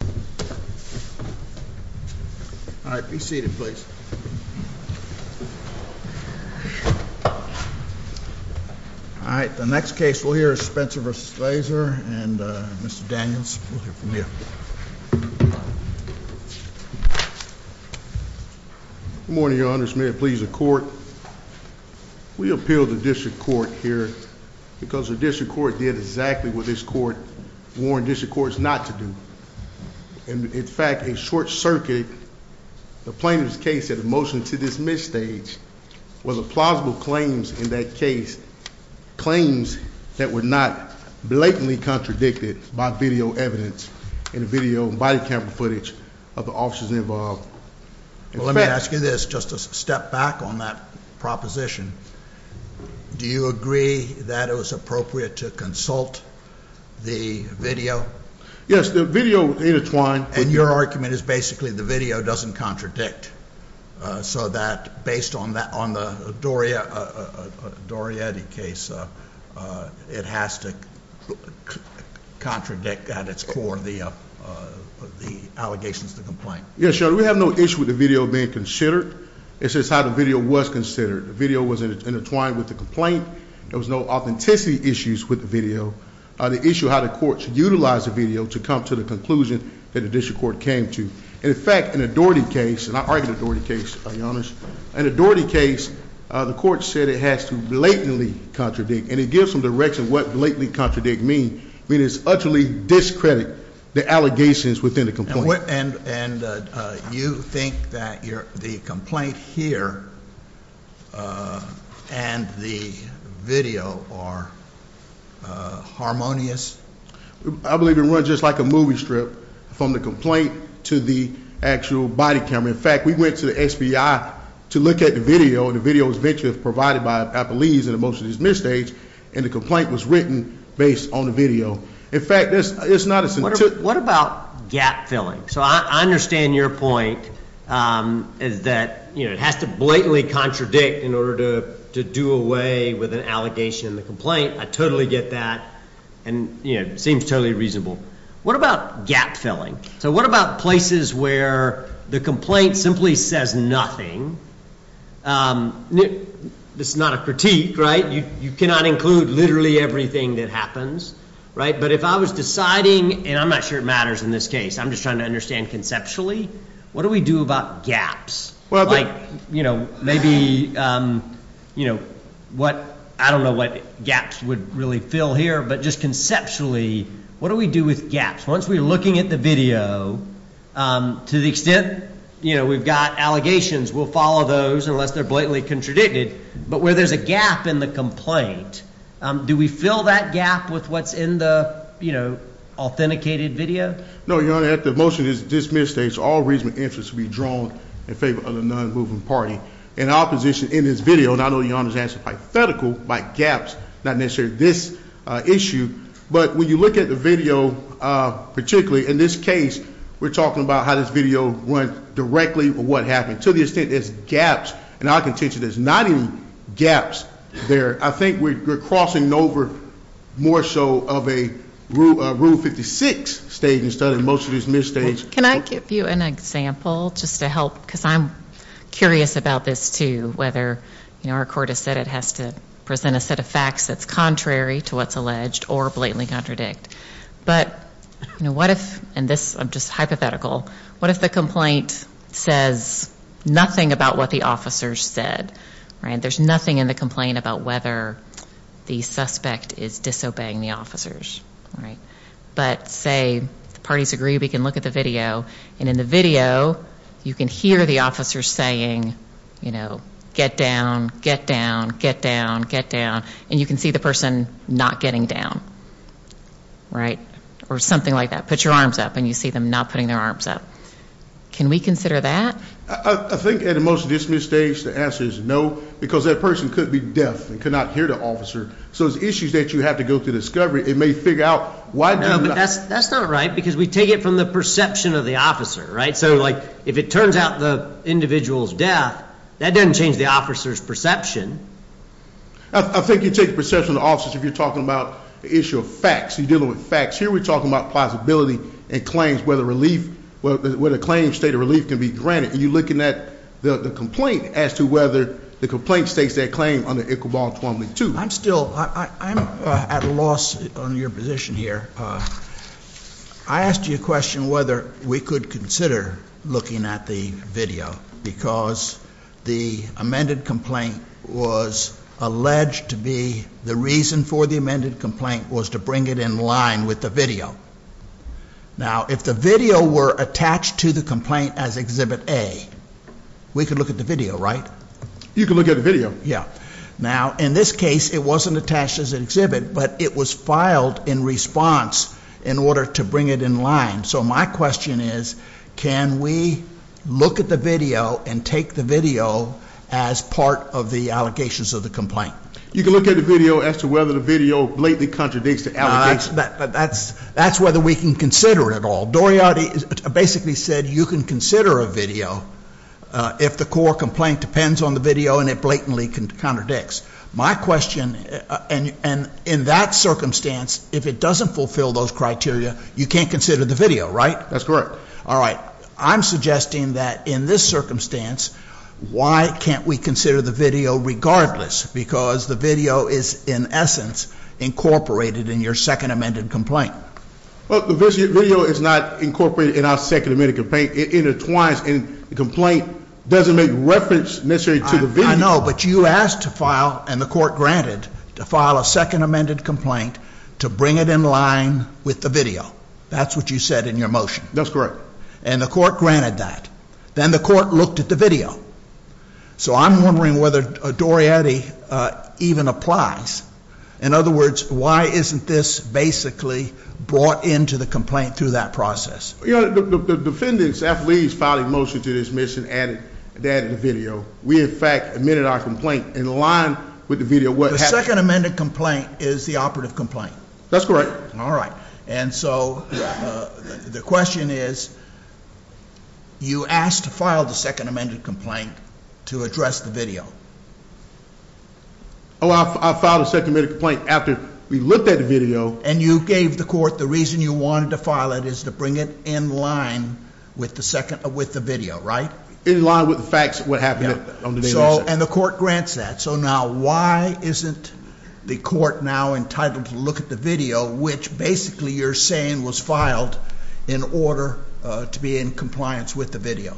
Good morning, Your Honors. May it please the Court, we appeal to the District Court here because the District Court did exactly what this Court warned District Courts not to do, and in fact a short circuit, a plaintiff's case at a motion to dismiss stage was a plausible claims in that case, claims that were not blatantly contradicted by video evidence and video and body camera footage of the officers involved. Let me ask you this, just a step back on that proposition. Do you agree that it was appropriate to consult the video? Yes, the video intertwined. And your argument is basically the video doesn't contradict, so that based on the Dorietti case, it has to contradict at its core the allegations of the complaint. Yes, Your Honor, we have no issue with the video being considered. It's just how the video was considered. The video was intertwined with the complaint. There was no authenticity issues with the video. The issue is how the courts utilized the video to come to the conclusion that the District Court came to. In fact, in the Dorietti case, and I argue the Dorietti case, Your Honors, in the Dorietti case, the court said it has to blatantly contradict, and it gives some direction what blatantly contradict means. It means it's utterly discrediting the allegations within the complaint. And you think that the complaint here and the video are harmonious? I believe it was just like a movie strip from the complaint to the actual body camera. In fact, we went to the SBI to look at the video, and the video was eventually provided by Appellees in the motion to dismiss the case, and the complaint was written based on the video. What about gap filling? I understand your point that it has to blatantly contradict in order to do away with an allegation in the complaint. I totally get that, and it seems totally reasonable. What about gap filling? What about places where the complaint simply says nothing? This is not a critique, right? You cannot include literally everything that happens, right? But if I was deciding, and I'm not sure it matters in this case, I'm just trying to understand conceptually, what do we do about gaps? Like, you know, maybe, you know, I don't know what gaps would really fill here, but just conceptually, what do we do with gaps? Once we're looking at the video, to the extent, you know, we've got allegations, we'll follow those unless they're blatantly contradicted. But where there's a gap in the complaint, do we fill that gap with what's in the, you know, authenticated video? No, Your Honor, after the motion is dismissed, there is all reasonable interest to be drawn in favor of the non-moving party. In opposition, in this video, and I know Your Honor's answer is hypothetical, like gaps, not necessarily this issue. But when you look at the video, particularly in this case, we're talking about how this video went directly, what happened. To the extent there's gaps in our contention, there's not even gaps there. I think we're crossing over more so of a Rule 56 state instead of most of these misstates. Can I give you an example just to help? Because I'm curious about this too, whether, you know, our court has said it has to present a set of facts that's contrary to what's alleged or blatantly contradict. But, you know, what if, and this, I'm just hypothetical, what if the complaint says nothing about what the officers said? There's nothing in the complaint about whether the suspect is disobeying the officers. Right. But say the parties agree, we can look at the video, and in the video, you can hear the officers saying, you know, get down, get down, get down, get down. And you can see the person not getting down. Right. Or something like that. Put your arms up, and you see them not putting their arms up. Can we consider that? I think at a motion dismissed stage, the answer is no, because that person could be deaf and could not hear the officer. So it's issues that you have to go through discovery. It may figure out why. No, but that's not right, because we take it from the perception of the officer. Right? So, like, if it turns out the individual's deaf, that doesn't change the officer's perception. I think you take the perception of the officers if you're talking about the issue of facts. You're dealing with facts. Here we're talking about plausibility and claims, whether a claim state of relief can be granted. And you're looking at the complaint as to whether the complaint states that claim under Iqbal Twombly 2. I'm still, I'm at a loss on your position here. I asked you a question whether we could consider looking at the video, because the amended complaint was alleged to be, the reason for the amended complaint was to bring it in line with the video. Now, if the video were attached to the complaint as Exhibit A, we could look at the video, right? You could look at the video. Yeah. Now, in this case, it wasn't attached as an exhibit, but it was filed in response in order to bring it in line. So my question is, can we look at the video and take the video as part of the allegations of the complaint? You can look at the video as to whether the video blatantly contradicts the allegations. That's whether we can consider it at all. Doriati basically said you can consider a video if the core complaint depends on the video and it blatantly contradicts. My question, and in that circumstance, if it doesn't fulfill those criteria, you can't consider the video, right? That's correct. All right. I'm suggesting that in this circumstance, why can't we consider the video regardless? Because the video is, in essence, incorporated in your second amended complaint. Well, the video is not incorporated in our second amended complaint. It intertwines, and the complaint doesn't make reference necessarily to the video. I know, but you asked to file, and the court granted, to file a second amended complaint to bring it in line with the video. That's what you said in your motion. That's correct. And the court granted that. Then the court looked at the video. So I'm wondering whether Doriati even applies. In other words, why isn't this basically brought into the complaint through that process? Your Honor, the defendants, athletes, filed a motion to dismiss and added the video. We, in fact, amended our complaint in line with the video. The second amended complaint is the operative complaint. That's correct. All right. And so the question is, you asked to file the second amended complaint to address the video. Oh, I filed a second amended complaint after we looked at the video. And you gave the court the reason you wanted to file it is to bring it in line with the video, right? In line with the facts of what happened on the video. And the court grants that. So now why isn't the court now entitled to look at the video, which basically you're saying was filed in order to be in compliance with the video?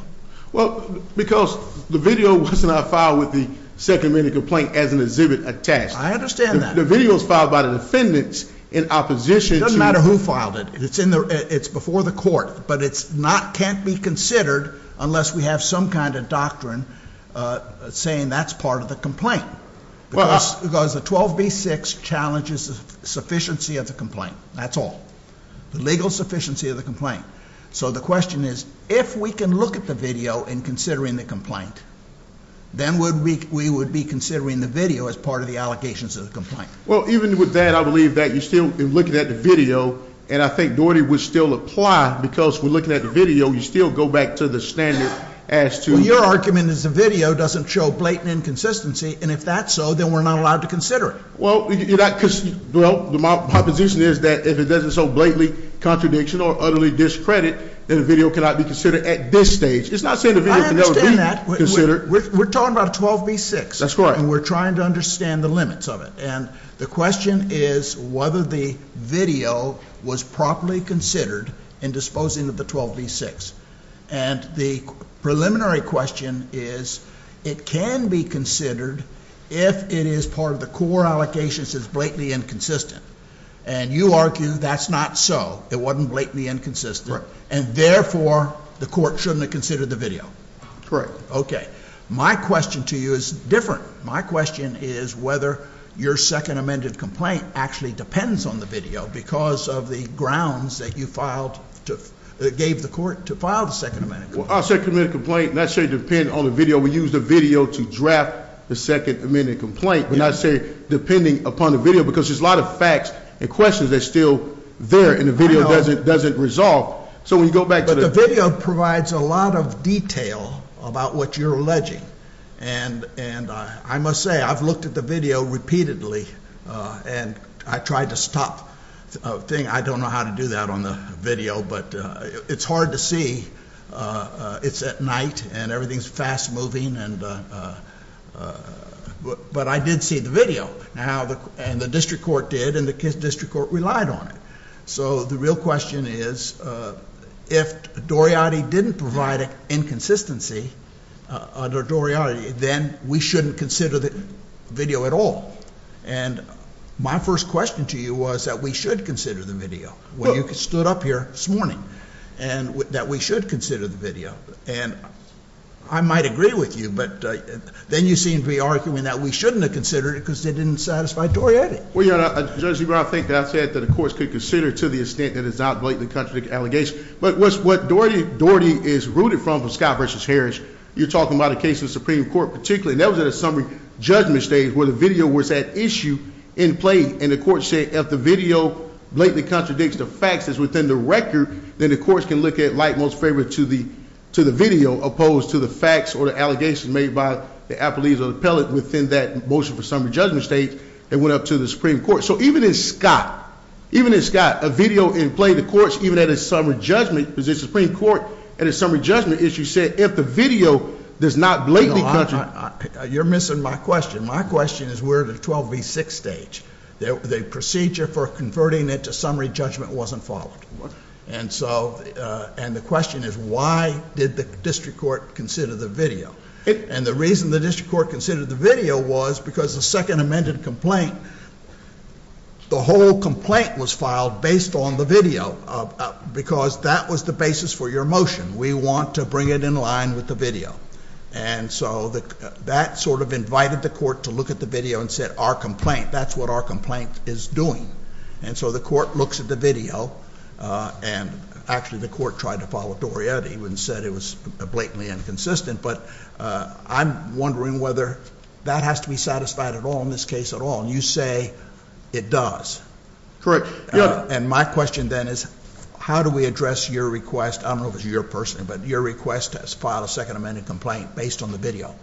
Well, because the video was not filed with the second amended complaint as an exhibit attached. I understand that. The video was filed by the defendants in opposition to the court. It doesn't matter who filed it. It's before the court. But it can't be considered unless we have some kind of doctrine saying that's part of the complaint. Because the 12B-6 challenges the sufficiency of the complaint. That's all. The legal sufficiency of the complaint. So the question is, if we can look at the video in considering the complaint, then we would be considering the video as part of the allegations of the complaint. Well, even with that, I believe that you're still looking at the video. And I think Doherty would still apply. Because we're looking at the video, you still go back to the standard as to- Well, your argument is the video doesn't show blatant inconsistency. And if that's so, then we're not allowed to consider it. Well, my position is that if it doesn't show blatant contradiction or utterly discredit, then the video cannot be considered at this stage. It's not saying the video can never be considered. I understand that. We're talking about a 12B-6. That's correct. And we're trying to understand the limits of it. And the question is whether the video was properly considered in disposing of the 12B-6. And the preliminary question is, it can be considered if it is part of the core allegations as blatantly inconsistent. And you argue that's not so. It wasn't blatantly inconsistent. And therefore, the court shouldn't have considered the video. Correct. Okay. My question to you is different. My question is whether your second amended complaint actually depends on the video because of the grounds that you filed to give the court to file the second amended complaint. Well, our second amended complaint does not say it depends on the video. We use the video to draft the second amended complaint, but not say depending upon the video because there's a lot of facts and questions that are still there and the video doesn't resolve. So when you go back to the video- But the video provides a lot of detail about what you're alleging. And I must say, I've looked at the video repeatedly and I tried to stop a thing. I don't know how to do that on the video, but it's hard to see. It's at night and everything's fast moving, but I did see the video. And the district court did, and the district court relied on it. So the real question is if Doriade didn't provide inconsistency under Doriade, then we shouldn't consider the video at all. And my first question to you was that we should consider the video. Well, you stood up here this morning and that we should consider the video. And I might agree with you, but then you seem to be arguing that we shouldn't have considered it because it didn't satisfy Doriade. Well, Your Honor, I think that I said that the courts could consider to the extent that it's not blatantly contradictory allegations. But what Doriade is rooted from, Scott v. Harris, you're talking about a case in the Supreme Court particularly, and that was at a summary judgment stage where the video was at issue in play. And the court said if the video blatantly contradicts the facts that's within the record, then the courts can look at like most favor to the video opposed to the facts or the allegations made by the appellees or the appellate within that motion for summary judgment stage. It went up to the Supreme Court. So even in Scott, even in Scott, a video in play, the courts, even at a summary judgment, because the Supreme Court at a summary judgment issue said if the video does not blatantly contradict. You're missing my question. My question is where the 12 v. 6 stage, the procedure for converting it to summary judgment wasn't followed. And so, and the question is why did the district court consider the video? And the reason the district court considered the video was because the second amended complaint, the whole complaint was filed based on the video because that was the basis for your motion. We want to bring it in line with the video. And so that sort of invited the court to look at the video and said our complaint, that's what our complaint is doing. And so the court looks at the video and actually the court tried to follow Doriade and said it was blatantly inconsistent. But I'm wondering whether that has to be satisfied at all in this case at all. And you say it does. Correct. And my question then is how do we address your request? I don't know if it's your personal, but your request has filed a second amended complaint based on the video.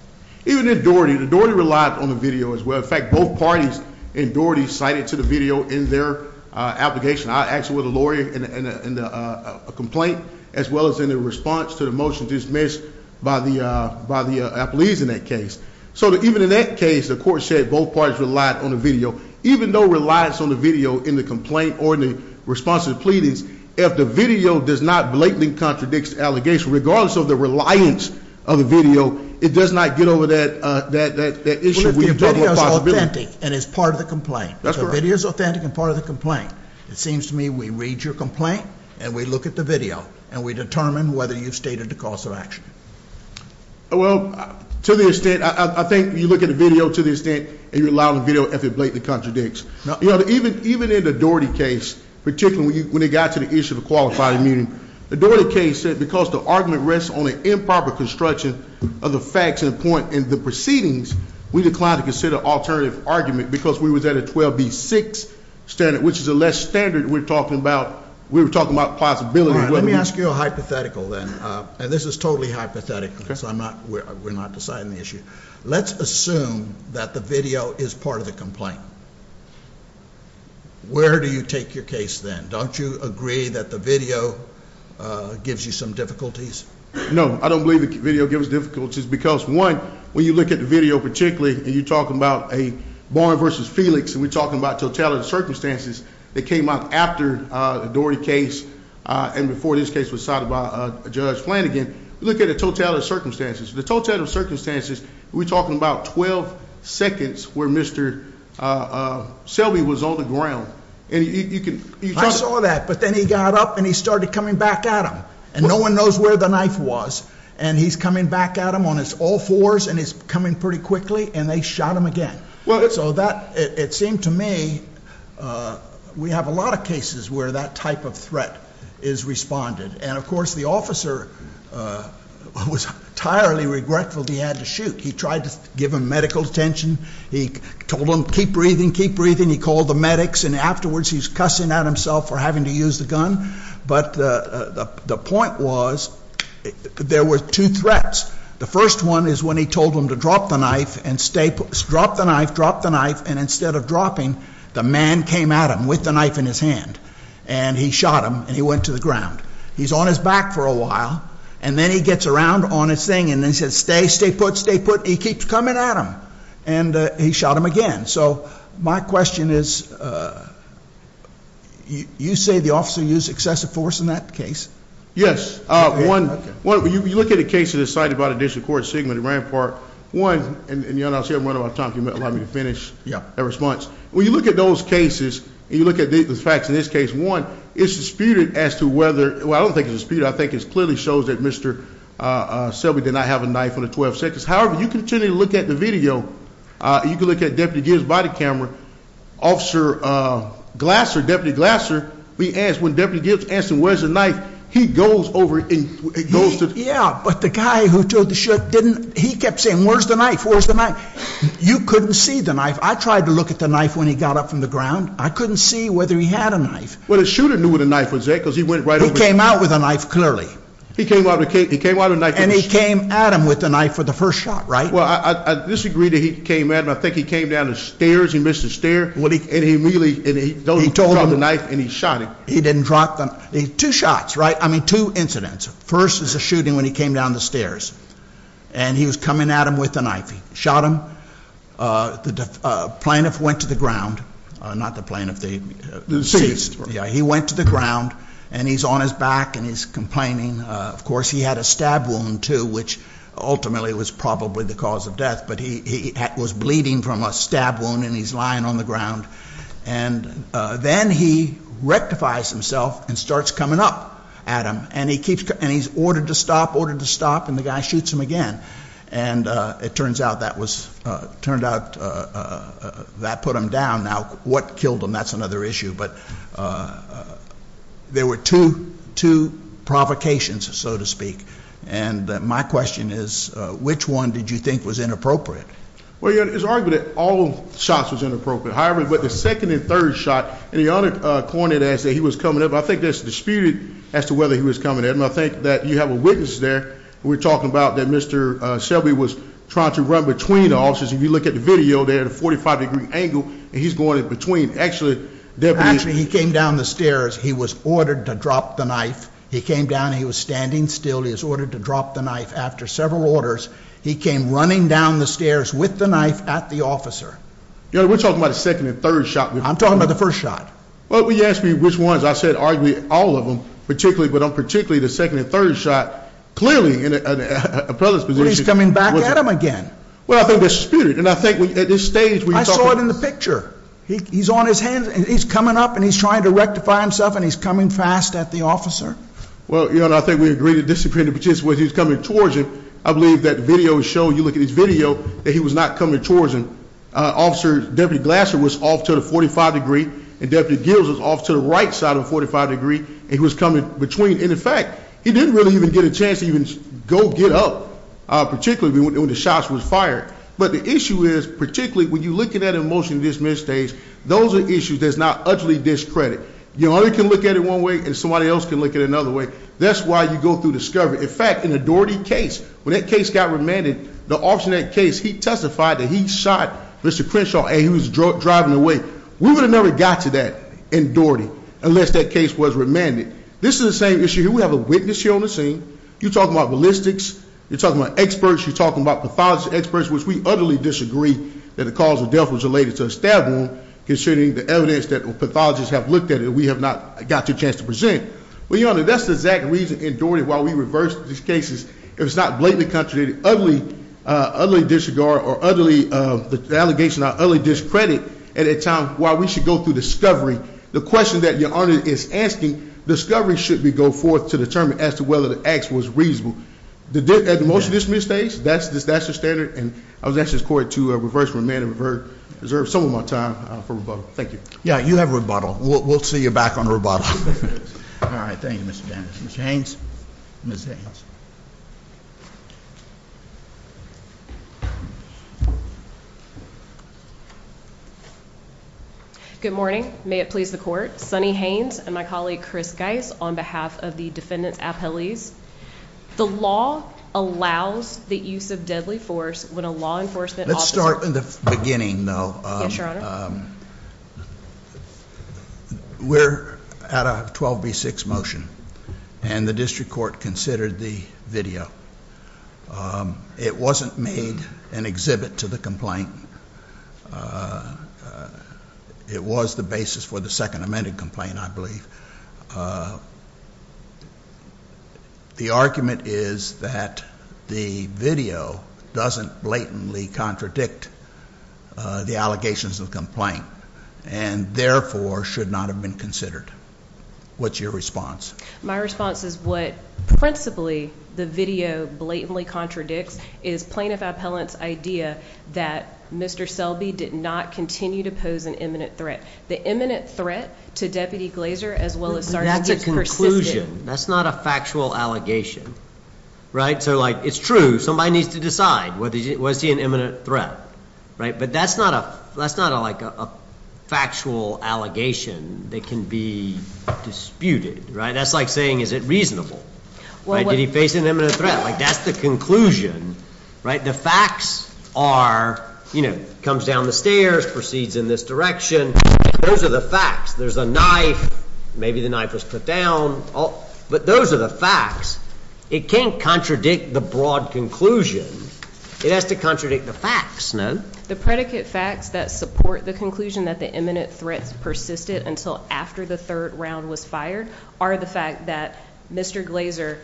Even in Doriade, Doriade relied on the video as well. In fact, both parties in Doriade cited to the video in their application. I asked for the lawyer in the complaint as well as in the response to the motion dismissed by the appellees in that case. So even in that case, the court said both parties relied on the video. Even though it relies on the video in the complaint or in the response to the pleadings, if the video does not blatantly contradict the allegation, regardless of the reliance of the video, it does not get over that issue. But if the video is authentic and is part of the complaint. That's correct. If it is authentic and part of the complaint, it seems to me we read your complaint and we look at the video. And we determine whether you've stated the cause of action. Well, to the extent, I think you look at the video to the extent that you rely on the video if it blatantly contradicts. Even in the Doherty case, particularly when it got to the issue of the qualifying meeting, the Doherty case said because the argument rests on an improper construction of the facts and the point in the proceedings, we declined to consider alternative argument because we was at a 12B6 standard, which is a less standard we're talking about. We were talking about possibility. Let me ask you a hypothetical then. And this is totally hypothetical. So I'm not, we're not deciding the issue. Let's assume that the video is part of the complaint. Where do you take your case then? Don't you agree that the video gives you some difficulties? No, I don't believe the video gives us difficulties. Which is because, one, when you look at the video particularly, and you talk about a Barnes versus Felix, and we're talking about totality of circumstances that came up after the Doherty case and before this case was cited by Judge Flanagan. Look at the totality of circumstances. The totality of circumstances, we're talking about 12 seconds where Mr. Selby was on the ground. And you can- I saw that. But then he got up and he started coming back at him. And no one knows where the knife was. And he's coming back at him on his all fours and he's coming pretty quickly. And they shot him again. So that, it seemed to me, we have a lot of cases where that type of threat is responded. And, of course, the officer was entirely regretful that he had to shoot. He tried to give him medical attention. He told him, keep breathing, keep breathing. He called the medics. And afterwards he's cussing at himself for having to use the gun. But the point was there were two threats. The first one is when he told him to drop the knife and instead of dropping, the man came at him with the knife in his hand. And he shot him and he went to the ground. He's on his back for a while. And then he gets around on his thing and he says, stay, stay put, stay put. He keeps coming at him. And he shot him again. So my question is, you say the officer used excessive force in that case? Yes. One, when you look at the cases cited by the District Court, Sigmund and Rampart, one, and you'll see I'm running out of time. Can you allow me to finish my response? When you look at those cases and you look at the facts in this case, one, it's disputed as to whether, well, I don't think it's disputed. I think it clearly shows that Mr. Selby did not have a knife on the 12th. However, you continue to look at the video, you can look at Deputy Gibbs' body camera. Officer Glasser, Deputy Glasser, we asked when Deputy Gibbs asked him where's the knife, he goes over and goes to. Yeah, but the guy who took the shot didn't. He kept saying, where's the knife, where's the knife? You couldn't see the knife. I tried to look at the knife when he got up from the ground. I couldn't see whether he had a knife. Well, the shooter knew where the knife was at because he went right over. He came out with a knife, clearly. He came out with a knife. And he came at him with a knife for the first shot, right? Well, I disagree that he came at him. I think he came down the stairs. He missed the stair. And he immediately, he dropped the knife and he shot him. He didn't drop the knife. Two shots, right? I mean, two incidents. First is a shooting when he came down the stairs. And he was coming at him with a knife. He shot him. The plaintiff went to the ground. Not the plaintiff. The deceased. Yeah, he went to the ground. And he's on his back and he's complaining. Of course, he had a stab wound, too, which ultimately was probably the cause of death. But he was bleeding from a stab wound and he's lying on the ground. And then he rectifies himself and starts coming up at him. And he's ordered to stop, ordered to stop, and the guy shoots him again. And it turns out that put him down. Now, what killed him, that's another issue. But there were two provocations, so to speak. And my question is, which one did you think was inappropriate? Well, it's argued that all shots was inappropriate. However, with the second and third shot, and the other coined it as that he was coming up, I think that's disputed as to whether he was coming up. And I think that you have a witness there. We're talking about that Mr. Shelby was trying to run between the officers. If you look at the video, they're at a 45-degree angle, and he's going in between. Actually, he came down the stairs. He was ordered to drop the knife. He came down. He was standing still. He was ordered to drop the knife. After several orders, he came running down the stairs with the knife at the officer. You know, we're talking about the second and third shot. I'm talking about the first shot. Well, will you ask me which ones? I said arguably all of them, but particularly the second and third shot. Clearly in an appellate's position. Well, he's coming back at him again. Well, I think that's disputed. And I think at this stage we're talking about. I saw it in the picture. He's on his hands. He's coming up, and he's trying to rectify himself, and he's coming fast at the officer. Well, I think we agree that this is disputed, but just the way he's coming towards him, I believe that the video is showing, you look at his video, that he was not coming towards him. Deputy Glasser was off to the 45-degree, and Deputy Gills was off to the right side of the 45-degree, and he was coming between. And, in fact, he didn't really even get a chance to even go get up, particularly when the shots were fired. But the issue is, particularly when you look at it in motion at this stage, those are issues that's not utterly discredited. You only can look at it one way, and somebody else can look at it another way. That's why you go through discovery. In fact, in the Doherty case, when that case got remanded, the officer in that case, he testified that he shot Mr. Crenshaw, and he was driving away. We would have never got to that in Doherty unless that case was remanded. This is the same issue here. We have a witness here on the scene. You're talking about ballistics. You're talking about experts. You're talking about pathologist experts, which we utterly disagree that the cause of death was related to a stab wound, considering the evidence that pathologists have looked at it, and we have not got a chance to present. Well, Your Honor, that's the exact reason in Doherty why we reversed these cases. If it's not blatantly contradicted, utterly disregarded, or the allegation is utterly discredited at a time why we should go through discovery. The question that Your Honor is asking, discovery should be go forth to determine as to whether the act was reasonable. At the motion to dismiss stage, that's the standard. And I would ask this court to reverse remand and reserve some of my time for rebuttal. Thank you. Yeah, you have rebuttal. We'll see you back on rebuttal. All right. Thank you, Mr. Dennis. Mr. Haynes. Ms. Haynes. Good morning. May it please the court. Sunny Haynes and my colleague Chris Geis on behalf of the defendant's appellees. The law allows the use of deadly force when a law enforcement officer Let's start in the beginning, though. Yes, Your Honor. We're at a 12B6 motion, and the district court considered the video. It wasn't made an exhibit to the complaint. It was the basis for the second amended complaint, I believe. The argument is that the video doesn't blatantly contradict the allegations of the complaint, and therefore should not have been considered. What's your response? My response is what principally the video blatantly contradicts is plaintiff appellant's idea that Mr. Selby did not continue to pose an imminent threat. The imminent threat to Deputy Glazer as well as sergeant gets persisted. That's a conclusion. That's not a factual allegation. Right? So, like, it's true. Somebody needs to decide. Was he an imminent threat? Right? But that's not a factual allegation that can be disputed. Right? That's like saying, is it reasonable? Did he face an imminent threat? Like, that's the conclusion. Right? The facts are, you know, comes down the stairs, proceeds in this direction. Those are the facts. There's a knife. Maybe the knife was put down. But those are the facts. It can't contradict the broad conclusion. It has to contradict the facts, no? The predicate facts that support the conclusion that the imminent threats persisted until after the third round was fired are the fact that Mr. Glazer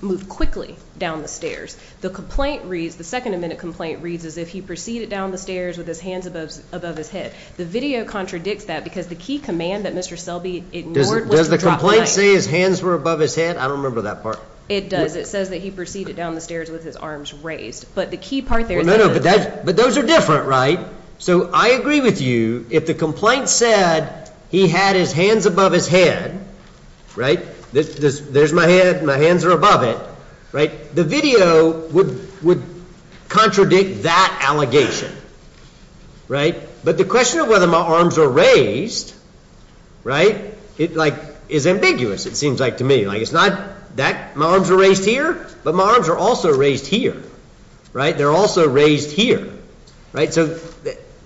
moved quickly down the stairs. The complaint reads, the second imminent complaint reads as if he proceeded down the stairs with his hands above his head. The video contradicts that because the key command that Mr. Selby ignored was to drop the knife. Does the complaint say his hands were above his head? I don't remember that part. It does. It says that he proceeded down the stairs with his arms raised. But the key part there is that. No, no. But those are different, right? So I agree with you. If the complaint said he had his hands above his head, right? There's my hand. My hands are above it. Right? The video would contradict that allegation. Right? But the question of whether my arms were raised, right, like, is ambiguous, it seems like to me. Like, it's not that my arms are raised here, but my arms are also raised here. Right? They're also raised here. Right? So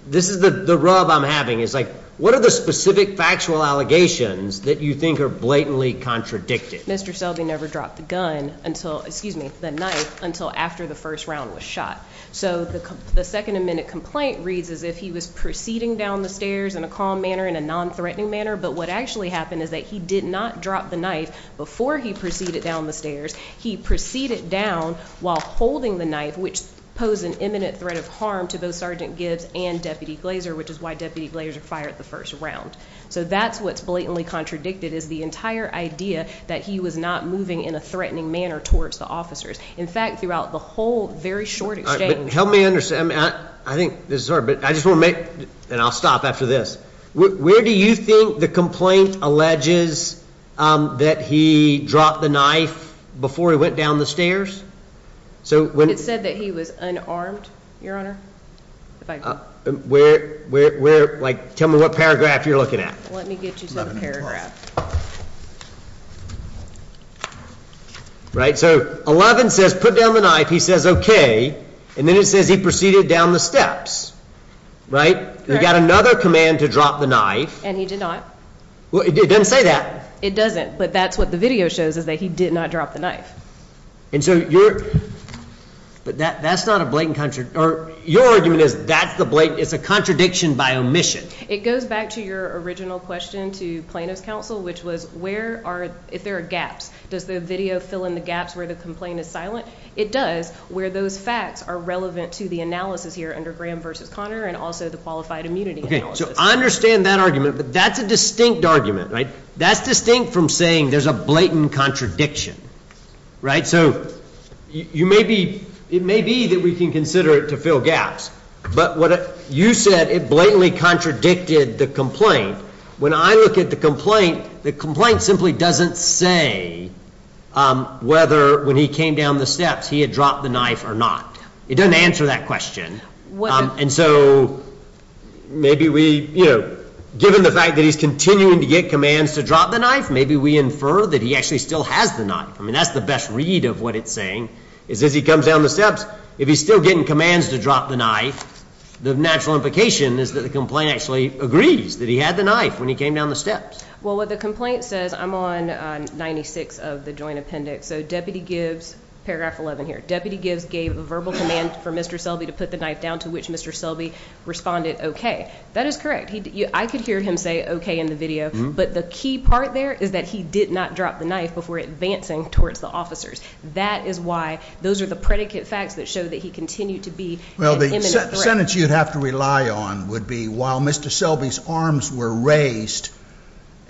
this is the rub I'm having. It's like, what are the specific factual allegations that you think are blatantly contradicted? Mr. Selby never dropped the gun until, excuse me, the knife, until after the first round was shot. So the second imminent complaint reads as if he was proceeding down the stairs in a calm manner, in a nonthreatening manner. But what actually happened is that he did not drop the knife before he proceeded down the stairs. He proceeded down while holding the knife, which posed an imminent threat of harm to both Sergeant Gibbs and Deputy Glazer, which is why Deputy Glazer fired the first round. So that's what's blatantly contradicted is the entire idea that he was not moving in a threatening manner towards the officers. In fact, throughout the whole very short exchange. Help me understand. I think this is hard, but I just want to make, and I'll stop after this. Where do you think the complaint alleges that he dropped the knife before he went down the stairs? It said that he was unarmed, Your Honor. Where, like, tell me what paragraph you're looking at. Let me get you some paragraphs. Right? So 11 says put down the knife. He says okay. And then it says he proceeded down the steps. Right? He got another command to drop the knife. And he did not. Well, it doesn't say that. It doesn't, but that's what the video shows is that he did not drop the knife. And so you're, but that's not a blatant, or your argument is that's the blatant, it's a contradiction by omission. It goes back to your original question to Plano's counsel, which was where are, if there are gaps, does the video fill in the gaps where the complaint is silent? It does where those facts are relevant to the analysis here under Graham v. Conner and also the qualified immunity analysis. So I understand that argument, but that's a distinct argument. Right? That's distinct from saying there's a blatant contradiction. Right? So you may be, it may be that we can consider it to fill gaps. But what you said, it blatantly contradicted the complaint. When I look at the complaint, the complaint simply doesn't say whether when he came down the steps he had dropped the knife or not. It doesn't answer that question. And so maybe we, you know, given the fact that he's continuing to get commands to drop the knife, maybe we infer that he actually still has the knife. I mean, that's the best read of what it's saying is as he comes down the steps, if he's still getting commands to drop the knife, the natural implication is that the complaint actually agrees that he had the knife when he came down the steps. Well, what the complaint says, I'm on 96 of the joint appendix, so Deputy Gibbs, paragraph 11 here, Deputy Gibbs gave a verbal command for Mr. Selby to put the knife down to which Mr. Selby responded okay. That is correct. I could hear him say okay in the video, but the key part there is that he did not drop the knife before advancing towards the officers. That is why those are the predicate facts that show that he continued to be an imminent threat. Well, the sentence you'd have to rely on would be while Mr. Selby's arms were raised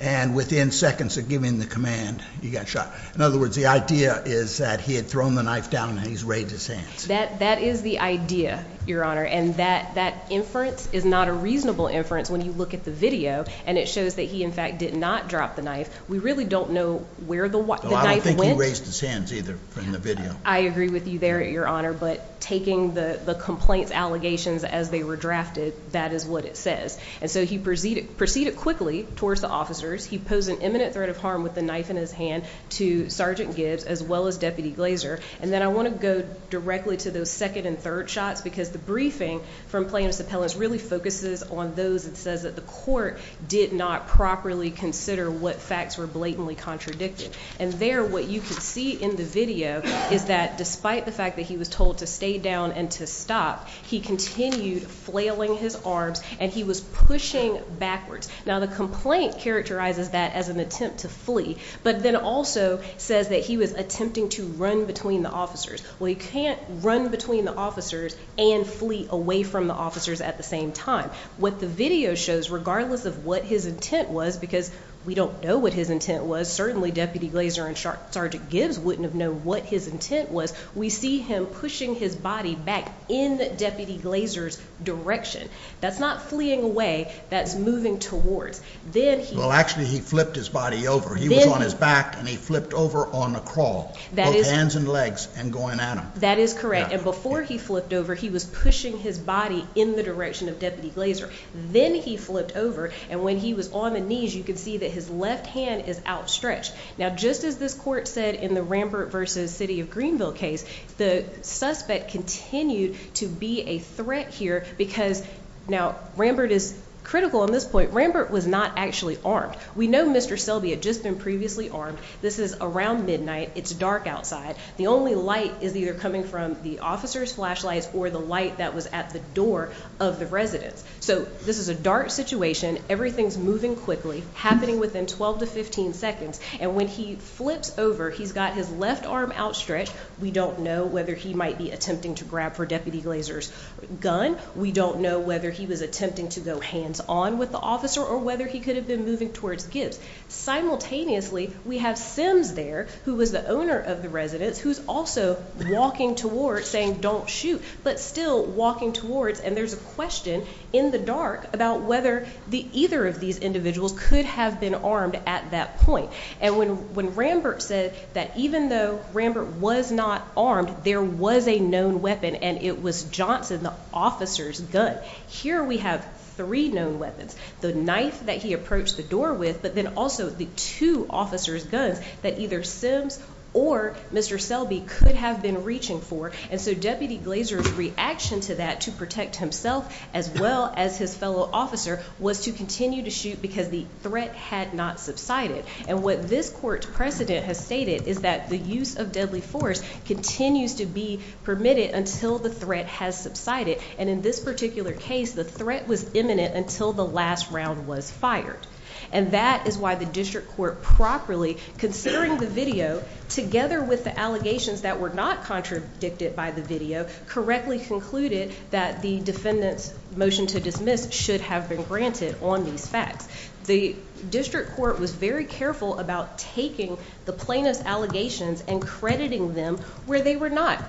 and within seconds of giving the command, you got shot. In other words, the idea is that he had thrown the knife down and he's raised his hands. That is the idea, Your Honor, and that inference is not a reasonable inference when you look at the video, and it shows that he, in fact, did not drop the knife. We really don't know where the knife went. He didn't raise his hands either in the video. I agree with you there, Your Honor, but taking the complaint's allegations as they were drafted, that is what it says. And so he proceeded quickly towards the officers. He posed an imminent threat of harm with the knife in his hand to Sergeant Gibbs as well as Deputy Glazer. And then I want to go directly to those second and third shots because the briefing from plaintiff's appellants really focuses on those that says that the court did not properly consider what facts were blatantly contradicted. And there what you can see in the video is that despite the fact that he was told to stay down and to stop, he continued flailing his arms and he was pushing backwards. Now, the complaint characterizes that as an attempt to flee, but then also says that he was attempting to run between the officers. Well, you can't run between the officers and flee away from the officers at the same time. What the video shows, regardless of what his intent was, because we don't know what his intent was, certainly Deputy Glazer and Sergeant Gibbs wouldn't have known what his intent was, we see him pushing his body back in Deputy Glazer's direction. That's not fleeing away, that's moving towards. Well, actually, he flipped his body over. He was on his back and he flipped over on the crawl, both hands and legs, and going at him. That is correct. And before he flipped over, he was pushing his body in the direction of Deputy Glazer. Then he flipped over, and when he was on the knees, you could see that his left hand is outstretched. Now, just as this court said in the Rambert versus City of Greenville case, the suspect continued to be a threat here because, now, Rambert is critical on this point. Rambert was not actually armed. We know Mr. Selby had just been previously armed. This is around midnight. It's dark outside. The only light is either coming from the officer's flashlights or the light that was at the door of the residence. So this is a dark situation. Everything's moving quickly, happening within 12 to 15 seconds. And when he flips over, he's got his left arm outstretched. We don't know whether he might be attempting to grab for Deputy Glazer's gun. We don't know whether he was attempting to go hands-on with the officer or whether he could have been moving towards Gibbs. Simultaneously, we have Sims there, who was the owner of the residence, who's also walking towards, saying, don't shoot, but still walking towards. And there's a question in the dark about whether either of these individuals could have been armed at that point. And when Rambert said that even though Rambert was not armed, there was a known weapon, and it was Johnson, the officer's gun. Here we have three known weapons, the knife that he approached the door with, but then also the two officer's guns that either Sims or Mr. Selby could have been reaching for. And so Deputy Glazer's reaction to that to protect himself as well as his fellow officer was to continue to shoot because the threat had not subsided. And what this court precedent has stated is that the use of deadly force continues to be permitted until the threat has subsided. And in this particular case, the threat was imminent until the last round was fired. And that is why the district court properly, considering the video, together with the allegations that were not contradicted by the video, correctly concluded that the defendant's motion to dismiss should have been granted on these facts. The district court was very careful about taking the plaintiff's allegations and crediting them where they were not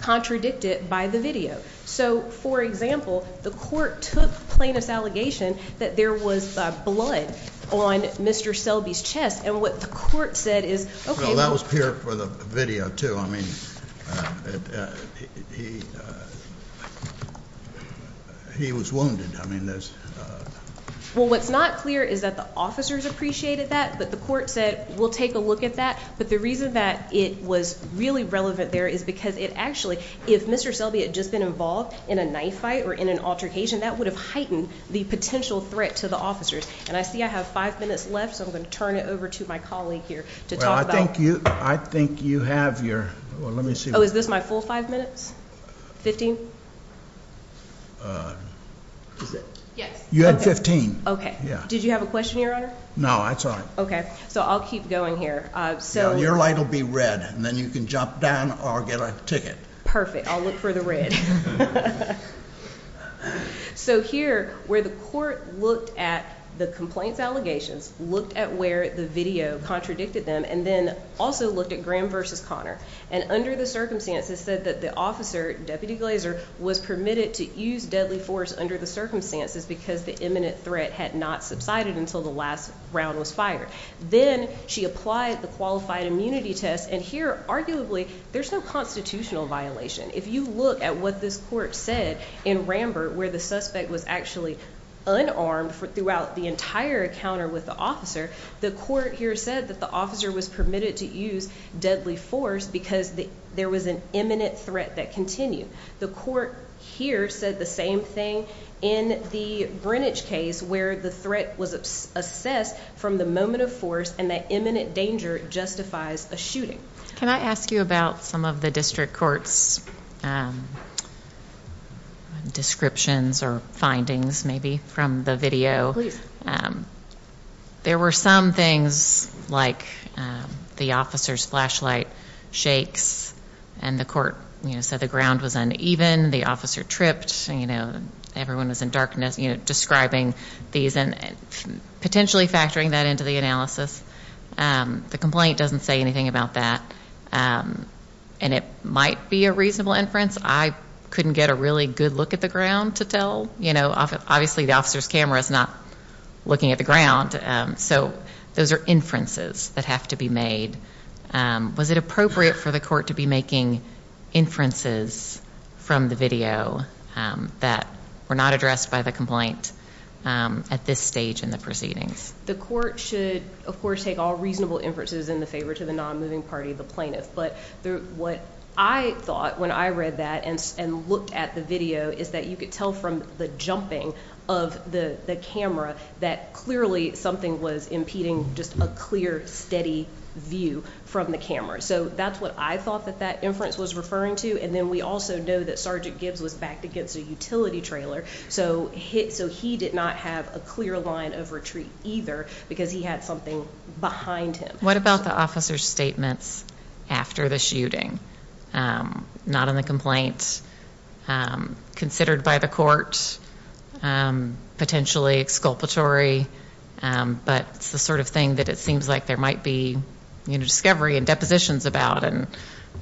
contradicted by the video. So, for example, the court took the plaintiff's allegation that there was blood on Mr. Selby's chest, and what the court said is, okay, well. That was here for the video, too. I mean, he was wounded. Well, what's not clear is that the officers appreciated that, but the court said, we'll take a look at that. But the reason that it was really relevant there is because it actually, if Mr. Selby had just been involved in a knife fight or in an altercation, that would have heightened the potential threat to the officers. And I see I have five minutes left, so I'm going to turn it over to my colleague here to talk about. Well, I think you have your, well, let me see. Oh, is this my full five minutes? Fifteen? Yes. You had fifteen. Okay. Did you have a question, Your Honor? No, that's all right. Okay. So I'll keep going here. Your light will be red, and then you can jump down or get a ticket. Perfect. I'll look for the red. So here, where the court looked at the complaints allegations, looked at where the video contradicted them, and then also looked at Graham versus Connor, and under the circumstances said that the officer, Deputy Glazer, was permitted to use deadly force under the circumstances because the imminent threat had not subsided until the last round was fired. Then she applied the qualified immunity test, and here, arguably, there's no constitutional violation. If you look at what this court said in Rambert, where the suspect was actually unarmed throughout the entire encounter with the officer, the court here said that the officer was permitted to use deadly force because there was an imminent threat that continued. The court here said the same thing in the Brennage case, where the threat was assessed from the moment of force, and that imminent danger justifies a shooting. Can I ask you about some of the district court's descriptions or findings, maybe, from the video? There were some things like the officer's flashlight shakes, and the court said the ground was uneven, the officer tripped, everyone was in darkness, describing these and potentially factoring that into the analysis. The complaint doesn't say anything about that, and it might be a reasonable inference. I couldn't get a really good look at the ground to tell. Obviously, the officer's camera is not looking at the ground, so those are inferences that have to be made. Was it appropriate for the court to be making inferences from the video that were not addressed by the complaint at this stage in the proceedings? The court should, of course, take all reasonable inferences in the favor to the non-moving party, the plaintiff. But what I thought when I read that and looked at the video is that you could tell from the jumping of the camera that clearly something was impeding just a clear, steady view from the camera. So that's what I thought that that inference was referring to, and then we also know that Sergeant Gibbs was backed against a utility trailer, so he did not have a clear line of retreat either because he had something behind him. What about the officer's statements after the shooting? Not in the complaint, considered by the court, potentially exculpatory, but it's the sort of thing that it seems like there might be discovery and depositions about, and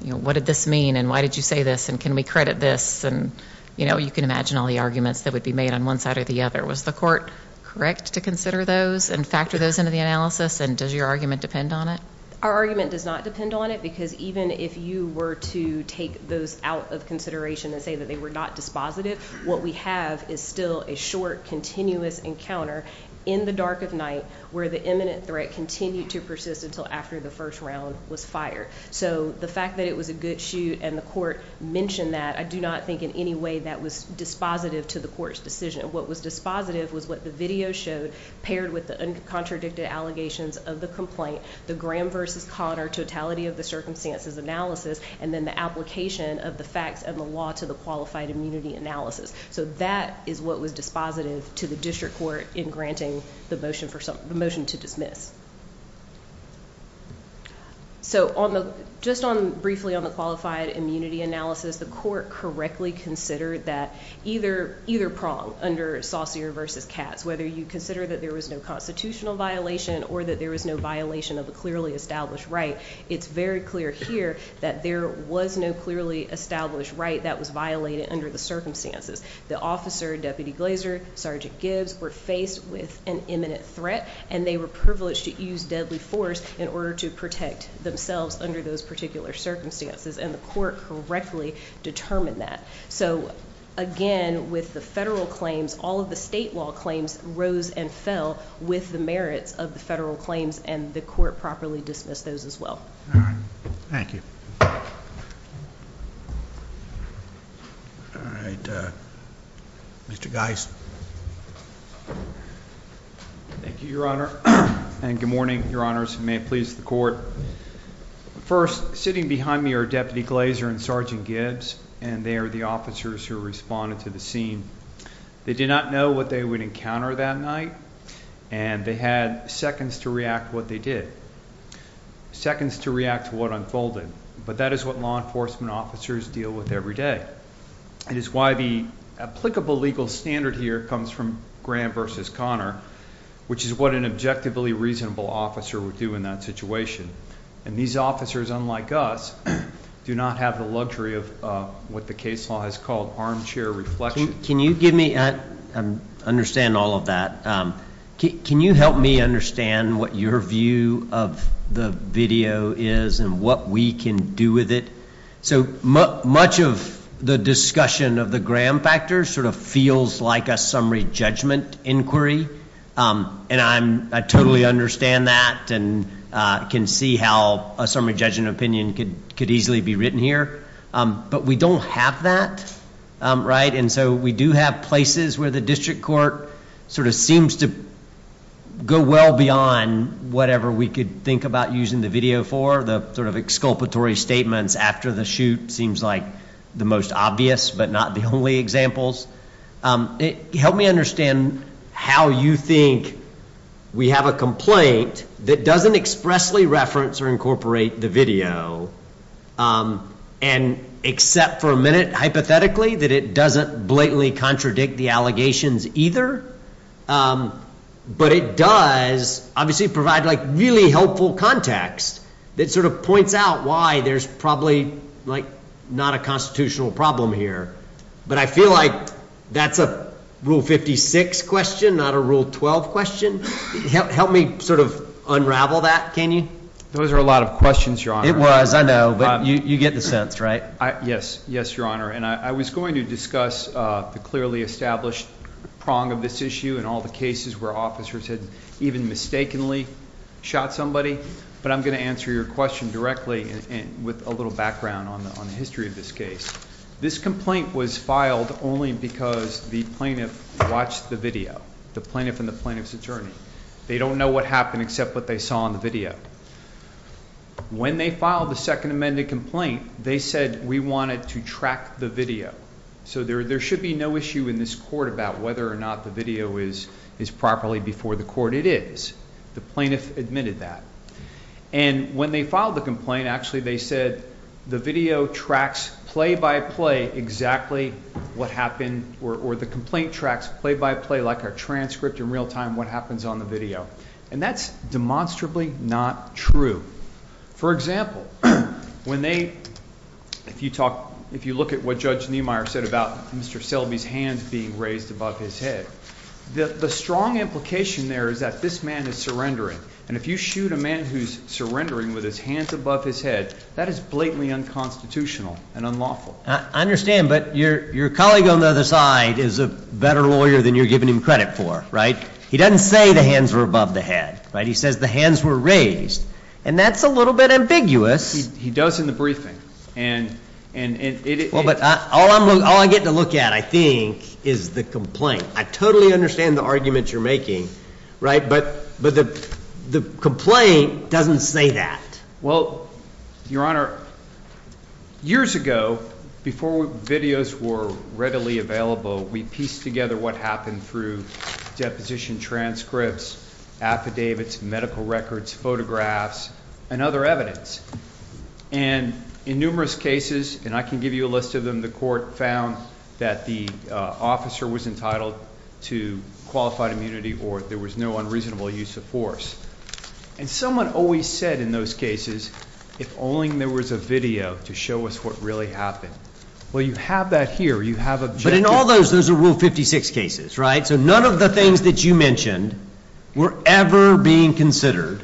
what did this mean, and why did you say this, and can we credit this? And you can imagine all the arguments that would be made on one side or the other. Was the court correct to consider those and factor those into the analysis, and does your argument depend on it? Our argument does not depend on it because even if you were to take those out of consideration and say that they were not dispositive, what we have is still a short, continuous encounter in the dark of night where the imminent threat continued to persist until after the first round was fired. So the fact that it was a good shoot and the court mentioned that, I do not think in any way that was dispositive to the court's decision. What was dispositive was what the video showed paired with the contradicted allegations of the complaint, the Graham v. Cotter totality of the circumstances analysis, and then the application of the facts and the law to the qualified immunity analysis. So that is what was dispositive to the district court in granting the motion to dismiss. Just briefly on the qualified immunity analysis, the court correctly considered that either prong under Saucier v. Katz, whether you consider that there was no constitutional violation or that there was no violation of a clearly established right, it's very clear here that there was no clearly established right that was violated under the circumstances. The officer, Deputy Glazer, Sergeant Gibbs, were faced with an imminent threat, and they were privileged to use deadly force in order to protect themselves under those particular circumstances, and the court correctly determined that. So again, with the federal claims, all of the state law claims rose and fell with the merits of the federal claims, and the court properly dismissed those as well. All right. Thank you. All right. Mr. Geis. Thank you, Your Honor, and good morning, Your Honors. You may please the court. First, sitting behind me are Deputy Glazer and Sergeant Gibbs, and they are the officers who responded to the scene. They did not know what they would encounter that night, and they had seconds to react to what they did, seconds to react to what unfolded, but that is what law enforcement officers deal with every day. It is why the applicable legal standard here comes from Graham v. Conner, which is what an objectively reasonable officer would do in that situation, and these officers, unlike us, do not have the luxury of what the case law has called armchair reflection. Can you give me an understanding of all of that? Can you help me understand what your view of the video is and what we can do with it? So much of the discussion of the Graham factor sort of feels like a summary judgment inquiry, and I totally understand that and can see how a summary judgment opinion could easily be written here, but we don't have that, right? And so we do have places where the district court sort of seems to go well beyond whatever we could think about using the video for, the sort of exculpatory statements after the shoot seems like the most obvious but not the only examples. Help me understand how you think we have a complaint that doesn't expressly reference or incorporate the video, and except for a minute, hypothetically, that it doesn't blatantly contradict the allegations either, but it does obviously provide really helpful context that sort of points out why there's probably not a constitutional problem here, but I feel like that's a Rule 56 question, not a Rule 12 question. Help me sort of unravel that, can you? Those are a lot of questions, Your Honor. It was, I know, but you get the sense, right? Yes, yes, Your Honor, and I was going to discuss the clearly established prong of this issue and all the cases where officers had even mistakenly shot somebody, but I'm going to answer your question directly with a little background on the history of this case. This complaint was filed only because the plaintiff watched the video, the plaintiff and the plaintiff's attorney. They don't know what happened except what they saw on the video. When they filed the second amended complaint, they said we wanted to track the video. So there should be no issue in this court about whether or not the video is properly before the court. It is. The plaintiff admitted that. And when they filed the complaint, actually, they said the video tracks play-by-play exactly what happened, or the complaint tracks play-by-play like a transcript in real time what happens on the video, and that's demonstrably not true. For example, when they, if you talk, if you look at what Judge Niemeyer said about Mr. Selby's hands being raised above his head, the strong implication there is that this man is surrendering, and if you shoot a man who's surrendering with his hands above his head, that is blatantly unconstitutional and unlawful. I understand, but your colleague on the other side is a better lawyer than you're giving him credit for, right? He doesn't say the hands were above the head, right? He says the hands were raised, and that's a little bit ambiguous. He does in the briefing, and it is. Well, but all I get to look at, I think, is the complaint. I totally understand the argument you're making, right? But the complaint doesn't say that. Well, Your Honor, years ago, before videos were readily available, we pieced together what happened through deposition transcripts, affidavits, medical records, photographs, and other evidence. And in numerous cases, and I can give you a list of them, the court found that the officer was entitled to qualified immunity or there was no unreasonable use of force. And someone always said in those cases, if only there was a video to show us what really happened. Well, you have that here. You have objectives. But in all those, those are Rule 56 cases, right? So none of the things that you mentioned were ever being considered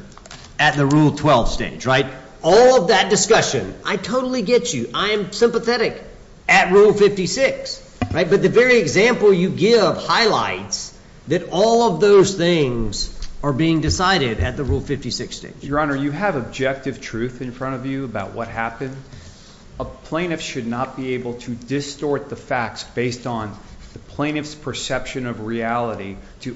at the Rule 12 stage, right? All of that discussion, I totally get you. I am sympathetic at Rule 56, right? But the very example you give highlights that all of those things are being decided at the Rule 56 stage. Your Honor, you have objective truth in front of you about what happened. A plaintiff should not be able to distort the facts based on the plaintiff's perception of reality to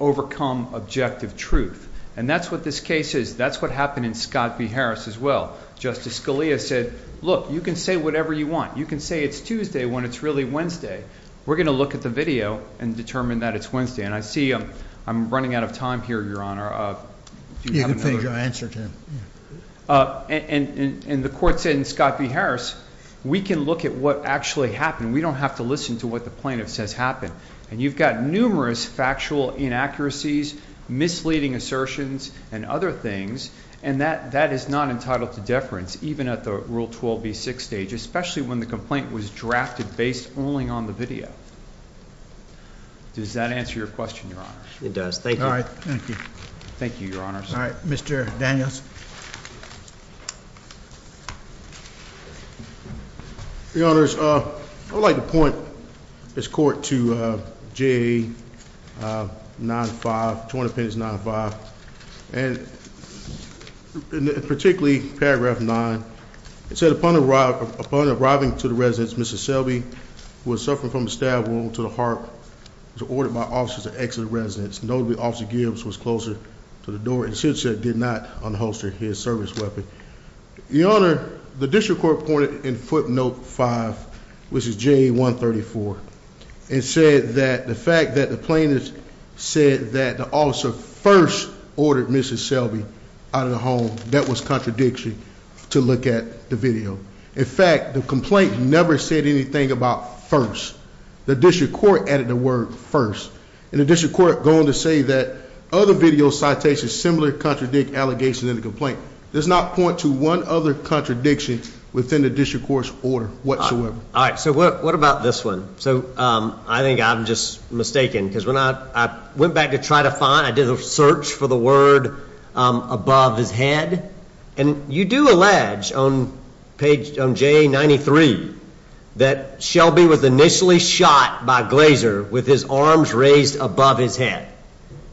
overcome objective truth. And that's what this case is. That's what happened in Scott v. Harris as well. Justice Scalia said, look, you can say whatever you want. You can say it's Tuesday when it's really Wednesday. We're going to look at the video and determine that it's Wednesday. And I see I'm running out of time here, Your Honor. You can finish your answer, Tim. And the court said in Scott v. Harris, we can look at what actually happened. We don't have to listen to what the plaintiff says happened. And you've got numerous factual inaccuracies, misleading assertions, and other things. And that is not entitled to deference, even at the Rule 12 v. 6 stage, especially when the complaint was drafted based only on the video. Does that answer your question, Your Honor? It does. Thank you. All right. Thank you. Thank you, Your Honors. All right. Mr. Daniels? Your Honors, I would like to point this court to JA 9-5, Joint Appendix 9-5. And particularly paragraph 9. It said, upon arriving to the residence, Mrs. Selby, who was suffering from a stab wound to the heart, was ordered by officers to exit the residence. Notably, Officer Gibbs was closer to the door and said she did not unholster his service weapon. Your Honor, the district court pointed in footnote 5, which is JA 134, and said that the fact that the plaintiff said that the officer first ordered Mrs. Selby out of the home, that was contradictory to look at the video. In fact, the complaint never said anything about first. The district court added the word first. And the district court going to say that other video citations similarly contradict allegations in the complaint. Does not point to one other contradiction within the district court's order whatsoever. All right. So what about this one? So I think I'm just mistaken because when I went back to try to find, I did a search for the word above his head. And you do allege on page, on JA 93, that Selby was initially shot by Glazer with his arms raised above his head.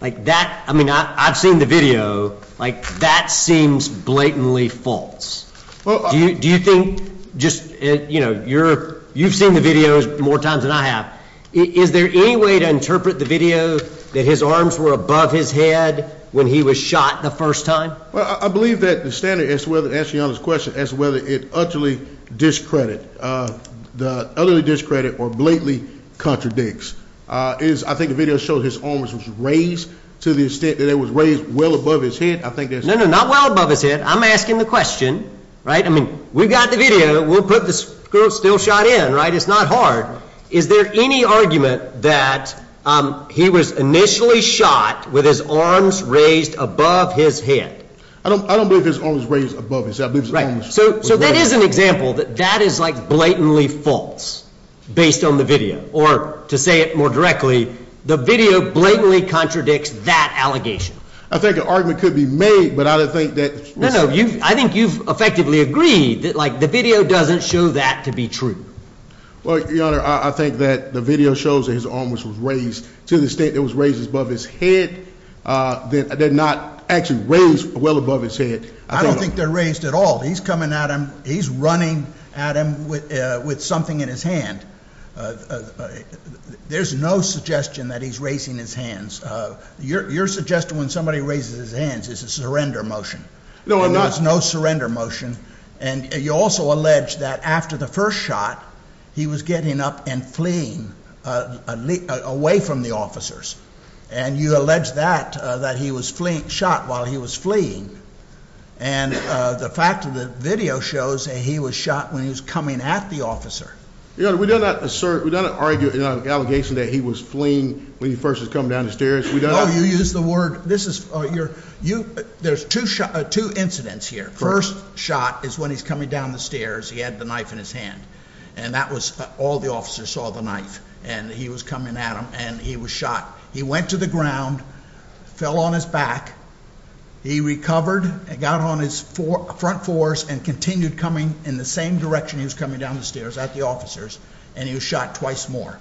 Like that, I mean, I've seen the video. Like that seems blatantly false. Do you think just, you know, you're, you've seen the videos more times than I have. Is there any way to interpret the video that his arms were above his head when he was shot the first time? Well, I believe that the standard as to whether, to answer your question, as to whether it utterly discredit, utterly discredit or blatantly contradicts. I think the video showed his arms was raised to the extent that it was raised well above his head. I think that's- No, no, not well above his head. I'm asking the question. Right? I mean, we've got the video. We'll put the girl still shot in. Right? It's not hard. Is there any argument that he was initially shot with his arms raised above his head? I don't believe his arms raised above his head. So that is an example that that is, like, blatantly false based on the video. Or, to say it more directly, the video blatantly contradicts that allegation. I think an argument could be made, but I don't think that- No, no, I think you've effectively agreed that, like, the video doesn't show that to be true. Well, Your Honor, I think that the video shows that his arms was raised to the extent that it was raised above his head. They're not actually raised well above his head. I don't think they're raised at all. He's coming at him. He's running at him with something in his hand. There's no suggestion that he's raising his hands. Your suggestion, when somebody raises his hands, is a surrender motion. No, I'm not. There's no surrender motion. And you also allege that after the first shot, he was getting up and fleeing away from the officers. And you allege that, that he was shot while he was fleeing. And the fact of the video shows that he was shot when he was coming at the officer. Your Honor, we do not assert, we do not argue in our allegation that he was fleeing when he first was coming down the stairs. No, you use the word, this is, you're, there's two incidents here. First shot is when he's coming down the stairs. He had the knife in his hand. And that was, all the officers saw the knife. And he was coming at him. And he was shot. He went to the ground, fell on his back. He recovered, got on his front fours and continued coming in the same direction he was coming down the stairs at the officers. And he was shot twice more.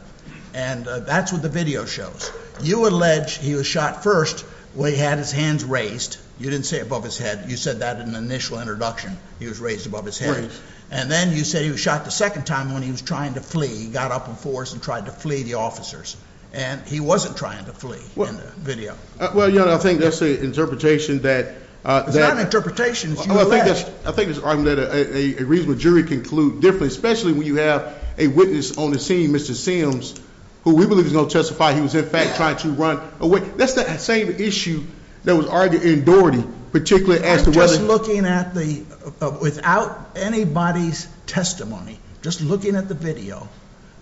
And that's what the video shows. You allege he was shot first when he had his hands raised. You didn't say above his head. You said that in the initial introduction. He was raised above his head. And then you said he was shot the second time when he was trying to flee. He got up on fours and tried to flee the officers. And he wasn't trying to flee in the video. Well, Your Honor, I think that's an interpretation that. It's not an interpretation. It's you allege. I think it's argument that a reasonable jury can conclude differently, especially when you have a witness on the scene, Mr. Sims, who we believe is going to testify he was, in fact, trying to run away. That's the same issue that was argued in Doherty, particularly as to whether. Just looking at the, without anybody's testimony, just looking at the video,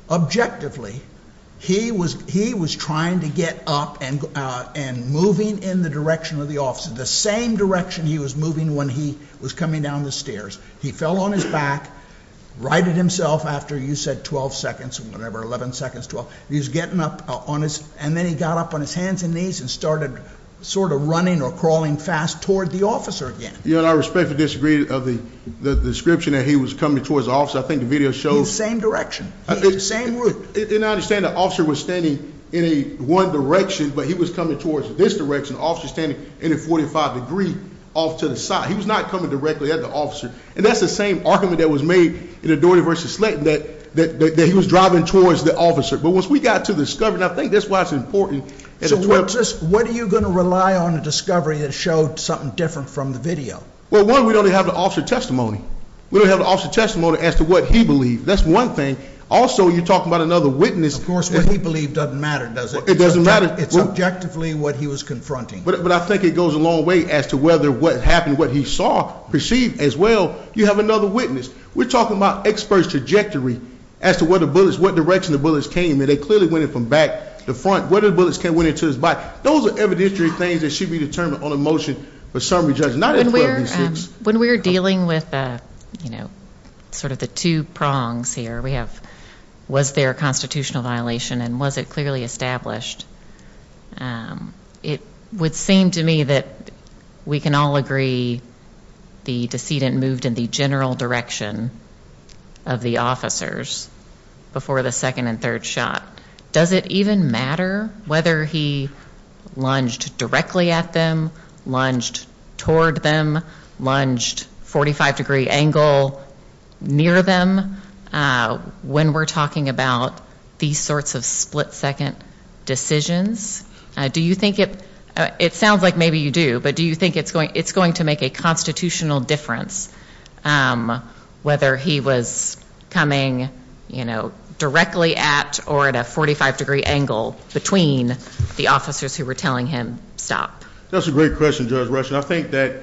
objectively, he was trying to get up and moving in the direction of the officer, the same direction he was moving when he was coming down the stairs. He fell on his back, righted himself after you said 12 seconds or whatever, 11 seconds, 12. He was getting up on his. And then he got up on his hands and knees and started sort of running or crawling fast toward the officer again. Your Honor, I respectfully disagree of the description that he was coming towards the officer. I think the video shows. The same direction. The same route. And I understand the officer was standing in one direction, but he was coming towards this direction, the officer standing in a 45 degree off to the side. He was not coming directly at the officer. And that's the same argument that was made in Doherty v. Slayton, that he was driving towards the officer. But once we got to the discovery, and I think that's why it's important. So what are you going to rely on a discovery that showed something different from the video? Well, one, we don't even have the officer's testimony. We don't have the officer's testimony as to what he believed. That's one thing. Also, you're talking about another witness. Of course, what he believed doesn't matter, does it? It doesn't matter. It's objectively what he was confronting. But I think it goes a long way as to whether what happened, what he saw, perceived as well. You have another witness. We're talking about experts' trajectory as to where the bullets, what direction the bullets came. And they clearly went in from back to front. Where the bullets came, went into his body. Those are evidentiary things that should be determined on a motion for summary judgment, not a 12 v. 6. When we're dealing with sort of the two prongs here, we have was there a constitutional violation and was it clearly established, it would seem to me that we can all agree the decedent moved in the general direction of the officers before the second and third shot. Does it even matter whether he lunged directly at them, lunged toward them, lunged 45-degree angle near them, when we're talking about these sorts of split-second decisions? Do you think it sounds like maybe you do, but do you think it's going to make a constitutional difference whether he was coming, you know, directly at or at a 45-degree angle between the officers who were telling him stop? That's a great question, Judge Rush. And I think that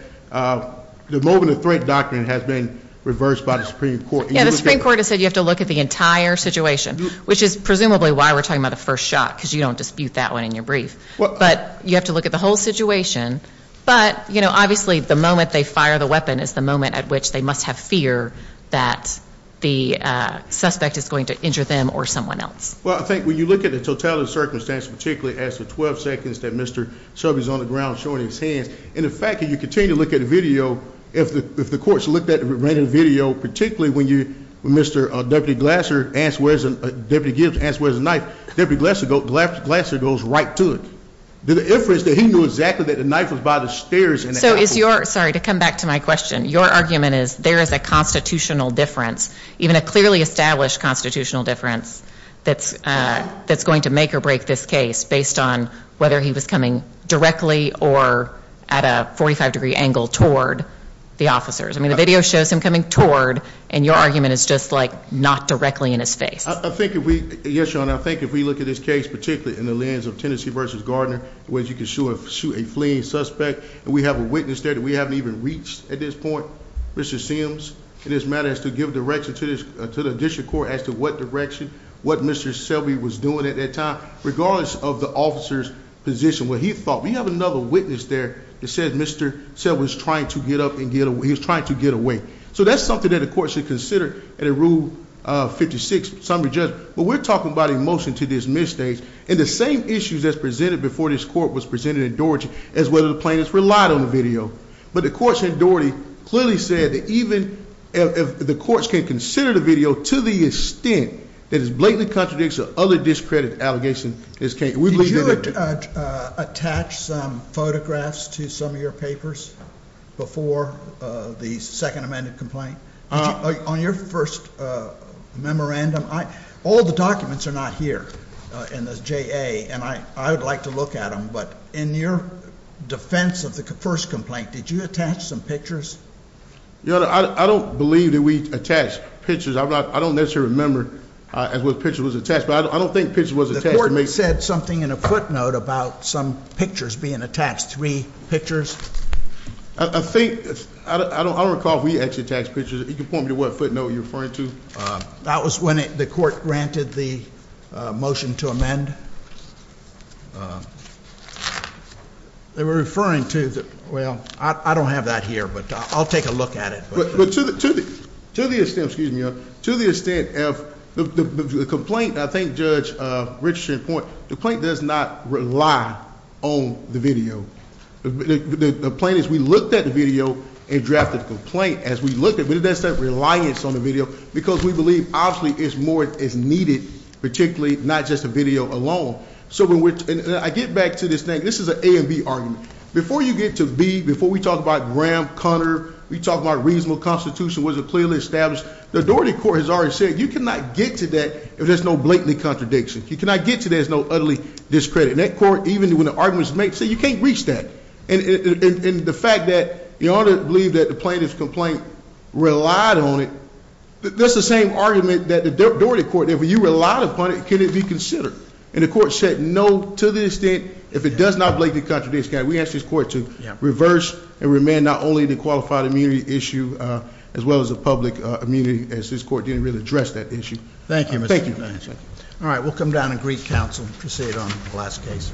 the moment of threat doctrine has been reversed by the Supreme Court. Yeah, the Supreme Court has said you have to look at the entire situation, which is presumably why we're talking about the first shot because you don't dispute that one in your brief. But you have to look at the whole situation. But, you know, obviously the moment they fire the weapon is the moment at which they must have fear that the suspect is going to injure them or someone else. Well, I think when you look at the totality of the circumstance, particularly as to the 12 seconds that Mr. Shelby's on the ground showing his hands, and the fact that you continue to look at the video, if the courts looked at the video, particularly when Mr. Deputy Glasser asked where's the knife, Deputy Glasser goes right to it. The inference that he knew exactly that the knife was by the stairs. Sorry, to come back to my question. Your argument is there is a constitutional difference, even a clearly established constitutional difference, that's going to make or break this case based on whether he was coming directly or at a 45-degree angle toward the officers. I mean, the video shows him coming toward, and your argument is just like not directly in his face. I think if we, yes, Your Honor, I think if we look at this case, particularly in the lens of Tennessee v. Gardner, where you can shoot a fleeing suspect, and we have a witness there that we haven't even reached at this point, Mr. Sims, in this matter, as to give direction to the district court as to what direction, what Mr. Shelby was doing at that time, regardless of the officer's position, what he thought, we have another witness there that said Mr. Shelby was trying to get up, he was trying to get away. So that's something that the court should consider at a Rule 56 summary judgment. But we're talking about a motion to dismiss state, and the same issues that's presented before this court was presented in Doherty as whether the plaintiffs relied on the video. But the courts in Doherty clearly said that even if the courts can't consider the video to the extent that it blatantly contradicts the other discredited allegations in this case. Did you attach some photographs to some of your papers before the second amended complaint? On your first memorandum, all the documents are not here in the JA, and I would like to look at them. But in your defense of the first complaint, did you attach some pictures? Your Honor, I don't believe that we attached pictures. I don't necessarily remember what pictures were attached. But I don't think pictures were attached. The court said something in a footnote about some pictures being attached, three pictures. I think, I don't recall if we actually attached pictures. Can you point me to what footnote you're referring to? That was when the court granted the motion to amend. They were referring to, well, I don't have that here, but I'll take a look at it. To the extent of the complaint, I think Judge Richardson's point, the complaint does not rely on the video. The point is we looked at the video and drafted the complaint as we looked at it, but it doesn't have reliance on the video because we believe obviously it's more as needed, particularly not just the video alone. I get back to this thing. This is an A and B argument. Before you get to B, before we talk about Graham-Conner, we talked about a reasonable constitution wasn't clearly established. The Daugherty Court has already said you cannot get to that if there's no blatant contradiction. You cannot get to that if there's no utterly discredit. And that court, even when the argument is made, said you can't reach that. And the fact that Your Honor believed that the plaintiff's complaint relied on it, that's the same argument that the Daugherty Court, if you relied upon it, can it be considered? And the court said no to the extent, if it does not blatantly contradict, can we ask this court to reverse and remand not only the qualified immunity issue as well as the public immunity, as this court didn't really address that issue. Thank you. Thank you. All right, we'll come down and greet counsel and proceed on the last case.